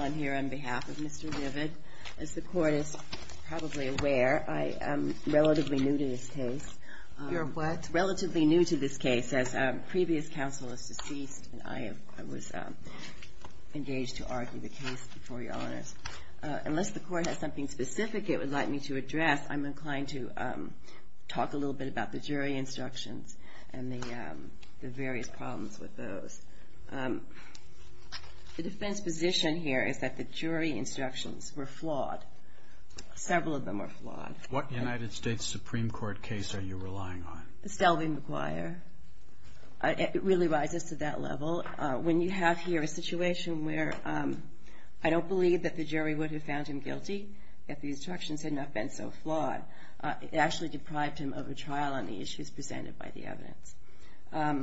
I'm here on behalf of Mr. Vived. As the Court is probably aware, I'm relatively new to this case. You're what? Relatively new to this case, as previous counsel is deceased, and I was engaged to argue the case before Your Honors. Unless the Court has something specific it would like me to address, I'm inclined to talk a little bit about the jury instructions and the various problems with those. The defense position here is that the jury instructions were flawed. Several of them were flawed. What United States Supreme Court case are you relying on? The Stelvey-McGuire. It really rises to that level. When you have here a situation where I don't believe that the jury would have found him guilty, if the instructions had not been so flawed, it actually deprived him of a trial on the issues presented by the evidence.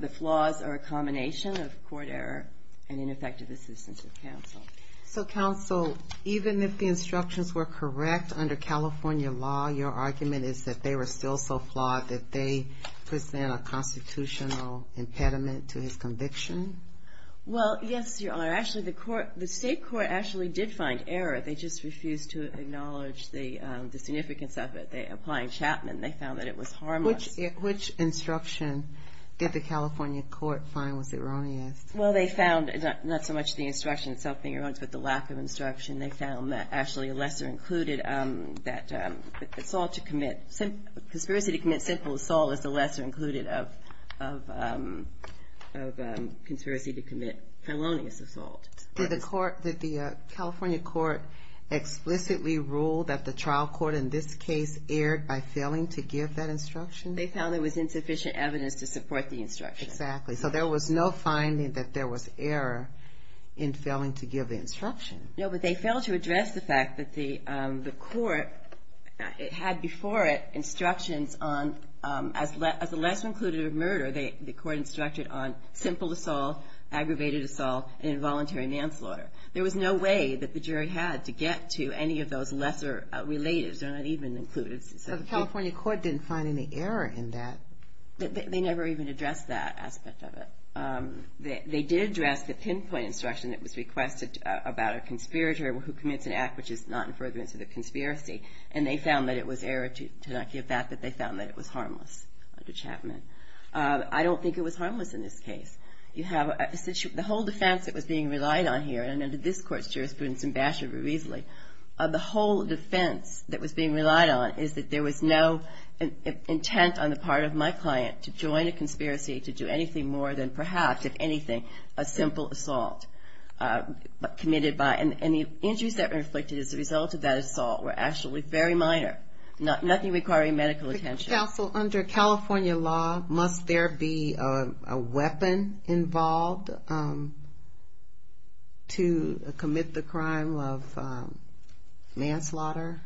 The flaws are a combination of court error and ineffective assistance of counsel. So counsel, even if the instructions were correct under California law, your argument is that they were still so flawed that they present a constitutional impediment to his conviction? Well, yes, Your Honor. Actually, the state court actually did find error. They just refused to acknowledge the significance of it. They applied Chapman. They found that it was harmless. Which instruction did the California court find was erroneous? Well, they found not so much the instruction itself being erroneous, but the lack of instruction. They found that actually lesser included that assault to commit, conspiracy to commit simple assault is the lesser included of conspiracy to commit felonious assault. Did the California court explicitly rule that the trial court in this case erred by failing to give that instruction? They found there was insufficient evidence to support the instruction. Exactly. So there was no finding that there was error in failing to give the instruction. No, but they failed to address the fact that the court had before it instructions on, as the lesser included of murder, the court instructed on simple assault, aggravated assault, and involuntary manslaughter. There was no way that the jury had to get to any of those lesser related. They're not even included. So the California court didn't find any error in that? They never even addressed that aspect of it. They did address the pinpoint instruction that was requested about a conspirator who commits an act which is not in furtherance of the conspiracy, and they found that it was error to not give that, but they found that it was harmless under Chapman. I don't think it was harmless in this case. The whole defense that was being relied on here, and under this court's jurisprudence and bashed it very easily, the whole defense that was being relied on is that there was no intent on the part of my client to join a conspiracy to do anything more than perhaps, if anything, a simple assault. And the injuries that were inflicted as a result of that assault were actually very minor, nothing requiring medical attention. Counsel, under California law, must there be a weapon involved to commit the crime of manslaughter?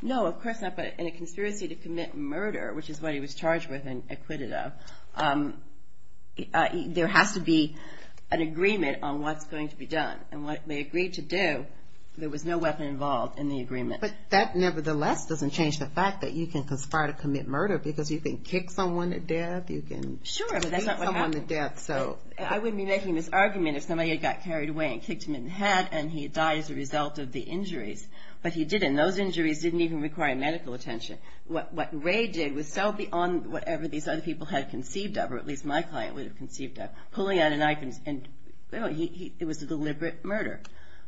No, of course not, but in a conspiracy to commit murder, which is what he was charged with and acquitted of, there has to be an agreement on what's going to be done. And what they agreed to do, there was no weapon involved in the agreement. But that, nevertheless, doesn't change the fact that you can conspire to commit murder because you can kick someone to death, you can beat someone to death. Sure, but that's not what happened. I wouldn't be making this argument if somebody had got carried away and kicked him in the head and he died as a result of the injuries, but he didn't. Those injuries didn't even require medical attention. What Ray did was so beyond whatever these other people had conceived of, or at least my client would have conceived of, pulling out a knife and, you know, it was a deliberate murder.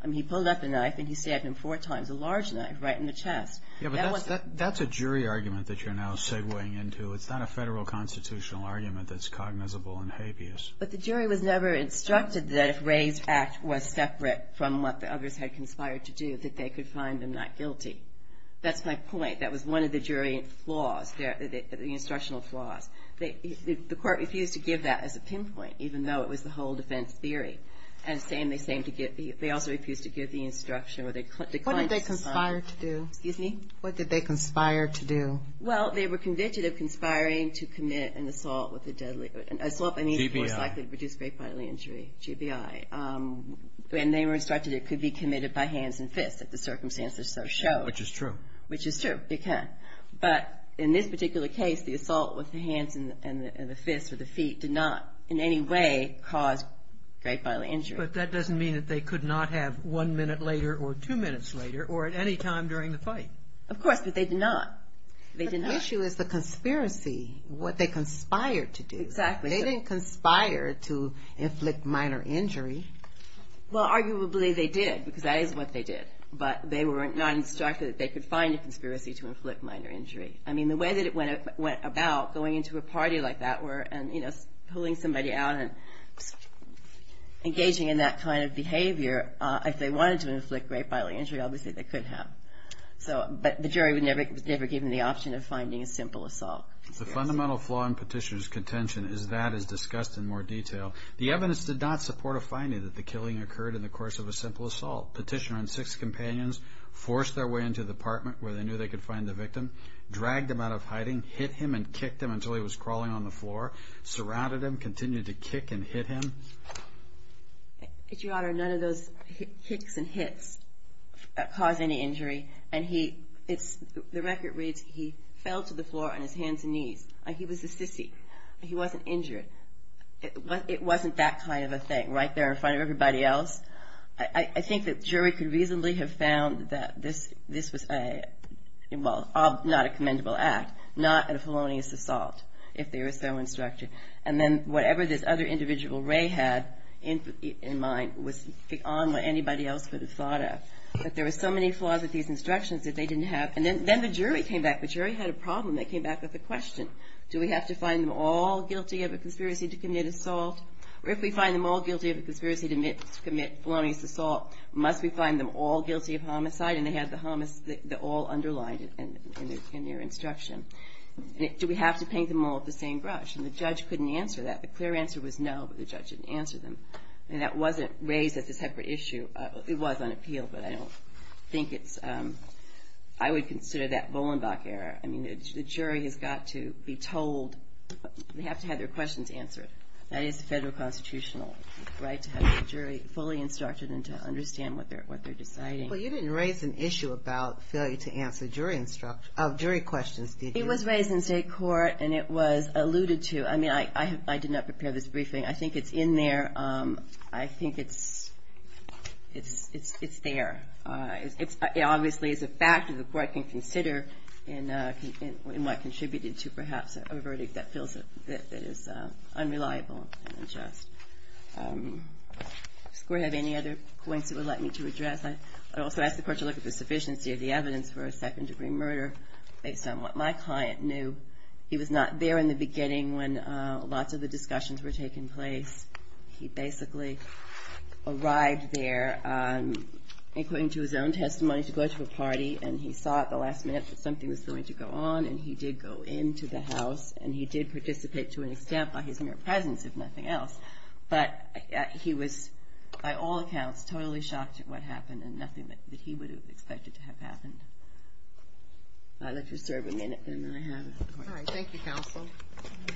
I mean, he pulled out the knife and he stabbed him four times, a large knife, right in the chest. Yeah, but that's a jury argument that you're now segueing into. It's not a federal constitutional argument that's cognizable and habeas. But the jury was never instructed that if Ray's act was separate from what the others had conspired to do, that they could find them not guilty. That's my point. That was one of the jury flaws, the instructional flaws. The court refused to give that as a pinpoint, even though it was the whole defense theory. And the same, they also refused to give the instruction where the client conspired. What did they conspire to do? Excuse me? What did they conspire to do? Well, they were convicted of conspiring to commit an assault with a deadly, an assault by means of force likely to reduce great bodily injury, GBI. And they were instructed it could be committed by hands and fists if the circumstances so show. Which is true. Which is true, it can. But in this particular case, the assault with the hands and the fists or the feet did not in any way cause great bodily injury. But that doesn't mean that they could not have one minute later or two minutes later or at any time during the fight. Of course, but they did not. But the issue is the conspiracy, what they conspired to do. Exactly. They didn't conspire to inflict minor injury. Well, arguably they did, because that is what they did. But they were not instructed that they could find a conspiracy to inflict minor injury. I mean, the way that it went about going into a party like that and, you know, pulling somebody out and engaging in that kind of behavior, if they wanted to inflict great bodily injury, obviously they could have. But the jury was never given the option of finding a simple assault. The fundamental flaw in Petitioner's contention is that, as discussed in more detail, the evidence did not support a finding that the killing occurred in the course of a simple assault. Petitioner and six companions forced their way into the apartment where they knew they could find the victim, dragged him out of hiding, hit him and kicked him until he was crawling on the floor, surrounded him, continued to kick and hit him. Your Honor, none of those kicks and hits caused any injury. The record reads, he fell to the floor on his hands and knees. He was a sissy. He wasn't injured. It wasn't that kind of a thing right there in front of everybody else. I think that jury could reasonably have found that this was a, well, not a commendable act, not a felonious assault, if they were so instructed. And then whatever this other individual, Ray, had in mind was beyond what anybody else could have thought of. But there were so many flaws with these instructions that they didn't have. And then the jury came back. The jury had a problem. They came back with a question. Do we have to find them all guilty of a conspiracy to commit assault? Or if we find them all guilty of a conspiracy to commit felonious assault, must we find them all guilty of homicide? And they had the all underlined in their instruction. Do we have to paint them all with the same brush? And the judge couldn't answer that. The clear answer was no, but the judge didn't answer them. And that wasn't raised as a separate issue. It was on appeal, but I don't think it's, I would consider that Bolenbach error. I mean, the jury has got to be told, they have to have their questions answered. That is the federal constitutional right to have the jury fully instructed and to understand what they're deciding. Well, you didn't raise an issue about failure to answer jury questions, did you? It was raised in state court, and it was alluded to. I mean, I did not prepare this briefing. I think it's in there. I think it's there. It obviously is a factor the court can consider in what contributed to perhaps a verdict that feels that is unreliable and unjust. Does the court have any other points it would like me to address? I'd also ask the court to look at the sufficiency of the evidence for a second-degree murder based on what my client knew. He was not there in the beginning when lots of the discussions were taking place. He basically arrived there, according to his own testimony, to go to a party, and he saw at the last minute that something was going to go on, and he did go into the house, and he did participate to an extent by his mere presence, if nothing else. But he was, by all accounts, totally shocked at what happened and nothing that he would have expected to have happened. I'll let you serve a minute, and then I have it. All right. Thank you, counsel. Good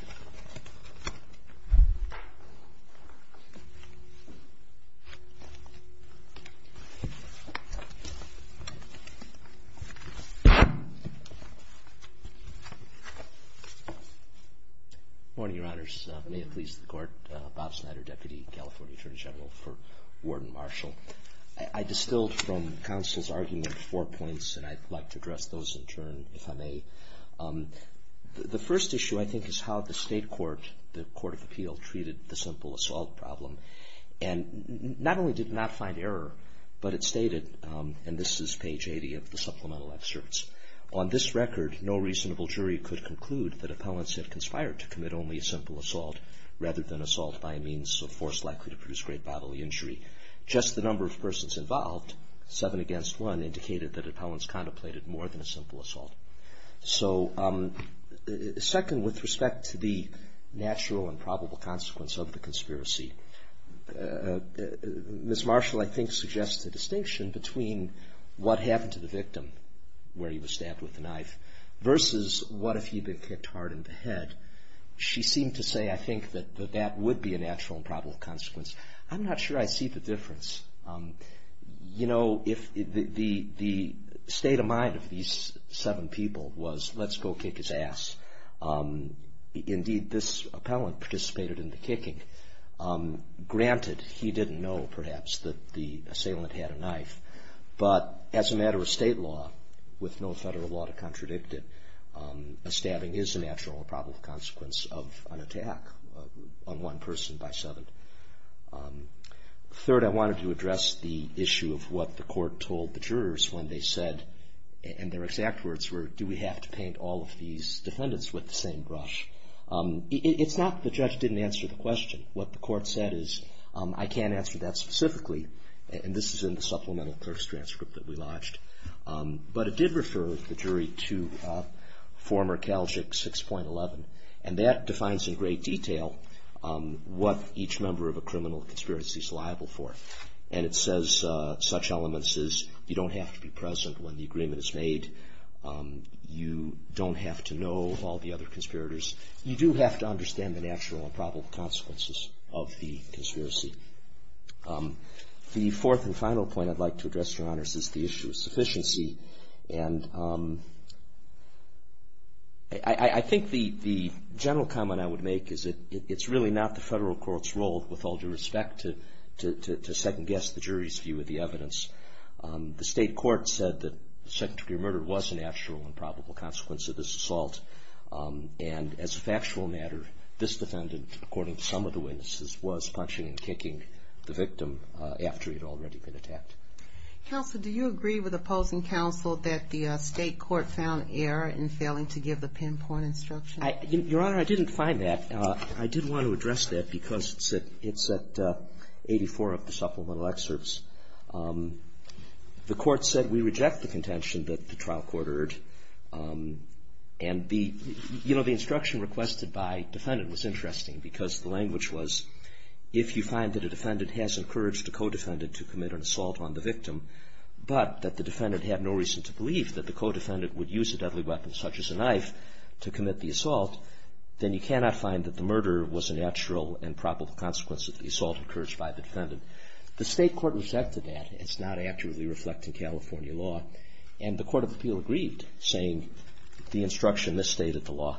morning, Your Honors. May it please the Court, Bob Snyder, Deputy California Attorney General for Warden Marshall. I distilled from counsel's argument four points, and I'd like to address those in turn, if I may. The first issue, I think, is how the state court, the Court of Appeal, treated the simple assault problem. And not only did it not find error, but it stated, and this is page 80 of the supplemental excerpts, on this record, no reasonable jury could conclude that appellants had conspired to commit only a simple assault rather than assault by a means so force-likely to produce great bodily injury. Just the number of persons involved, seven against one, indicated that appellants contemplated more than a simple assault. So second, with respect to the natural and probable consequence of the conspiracy, Ms. Marshall, I think, suggests the distinction between what happened to the victim, where he was stabbed with a knife, versus what if he'd been kicked hard in the head. She seemed to say, I think, that that would be a natural and probable consequence. I'm not sure I see the difference. You know, the state of mind of these seven people was, let's go kick his ass. Indeed, this appellant participated in the kicking. Granted, he didn't know, perhaps, that the assailant had a knife, but as a matter of state law, with no federal law to contradict it, a stabbing is a natural and probable consequence of an attack on one person by seven. Third, I wanted to address the issue of what the court told the jurors when they said, and their exact words were, do we have to paint all of these defendants with the same brush? It's not that the judge didn't answer the question. What the court said is, I can't answer that specifically, and this is in the supplemental clerk's transcript that we lodged, but it did refer the jury to former Calgic 6.11, and that defines in great detail what each member of a criminal conspiracy is liable for, and it says such elements as you don't have to be present when the agreement is made, you don't have to know all the other conspirators. You do have to understand the natural and probable consequences of the conspiracy. The fourth and final point I'd like to address, Your Honors, is the issue of sufficiency, and I think the general comment I would make is that it's really not the federal court's role, with all due respect, to second-guess the jury's view of the evidence. The state court said that the second degree murder was a natural and probable consequence of this assault, and as a factual matter, this defendant, according to some of the witnesses, was punching and kicking the victim after he had already been attacked. Counsel, do you agree with opposing counsel that the state court found error in failing to give the pinpoint instruction? Your Honor, I didn't find that. I did want to address that because it's at 84 of the supplemental excerpts. The court said we reject the contention that the trial court heard, and the instruction requested by defendant was interesting because the language was, if you find that a defendant has encouraged a co-defendant to commit an assault on the victim, but that the defendant had no reason to believe that the co-defendant would use a deadly weapon, such as a knife, to commit the assault, then you cannot find that the murder was a natural and probable consequence of the assault encouraged by the defendant. The state court rejected that. It's not accurately reflecting California law, and the Court of Appeal agreed, saying the instruction misstated the law,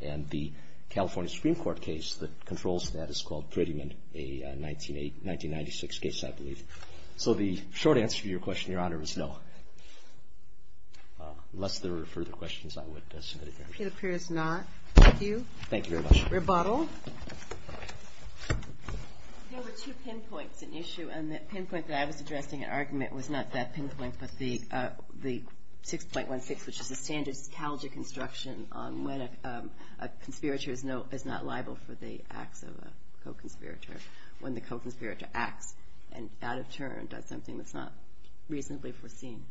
and the California Supreme Court case that controls that is called Prettyman, a 1996 case, I believe. So the short answer to your question, Your Honor, is no. Unless there are further questions, I would submit it there. It appears not. Thank you. Thank you very much. Rebuttal. There were two pinpoints in the issue, and the pinpoint that I was addressing in argument was not that pinpoint, but the 6.16, which is the standard psychology construction on when a conspirator is not liable for the acts of a co-conspirator, when the co-conspirator acts and, out of turn, does something that's not reasonably foreseen.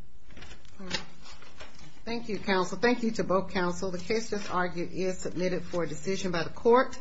Thank you, counsel. Thank you to both counsel. The case that's argued is submitted for decision by the court.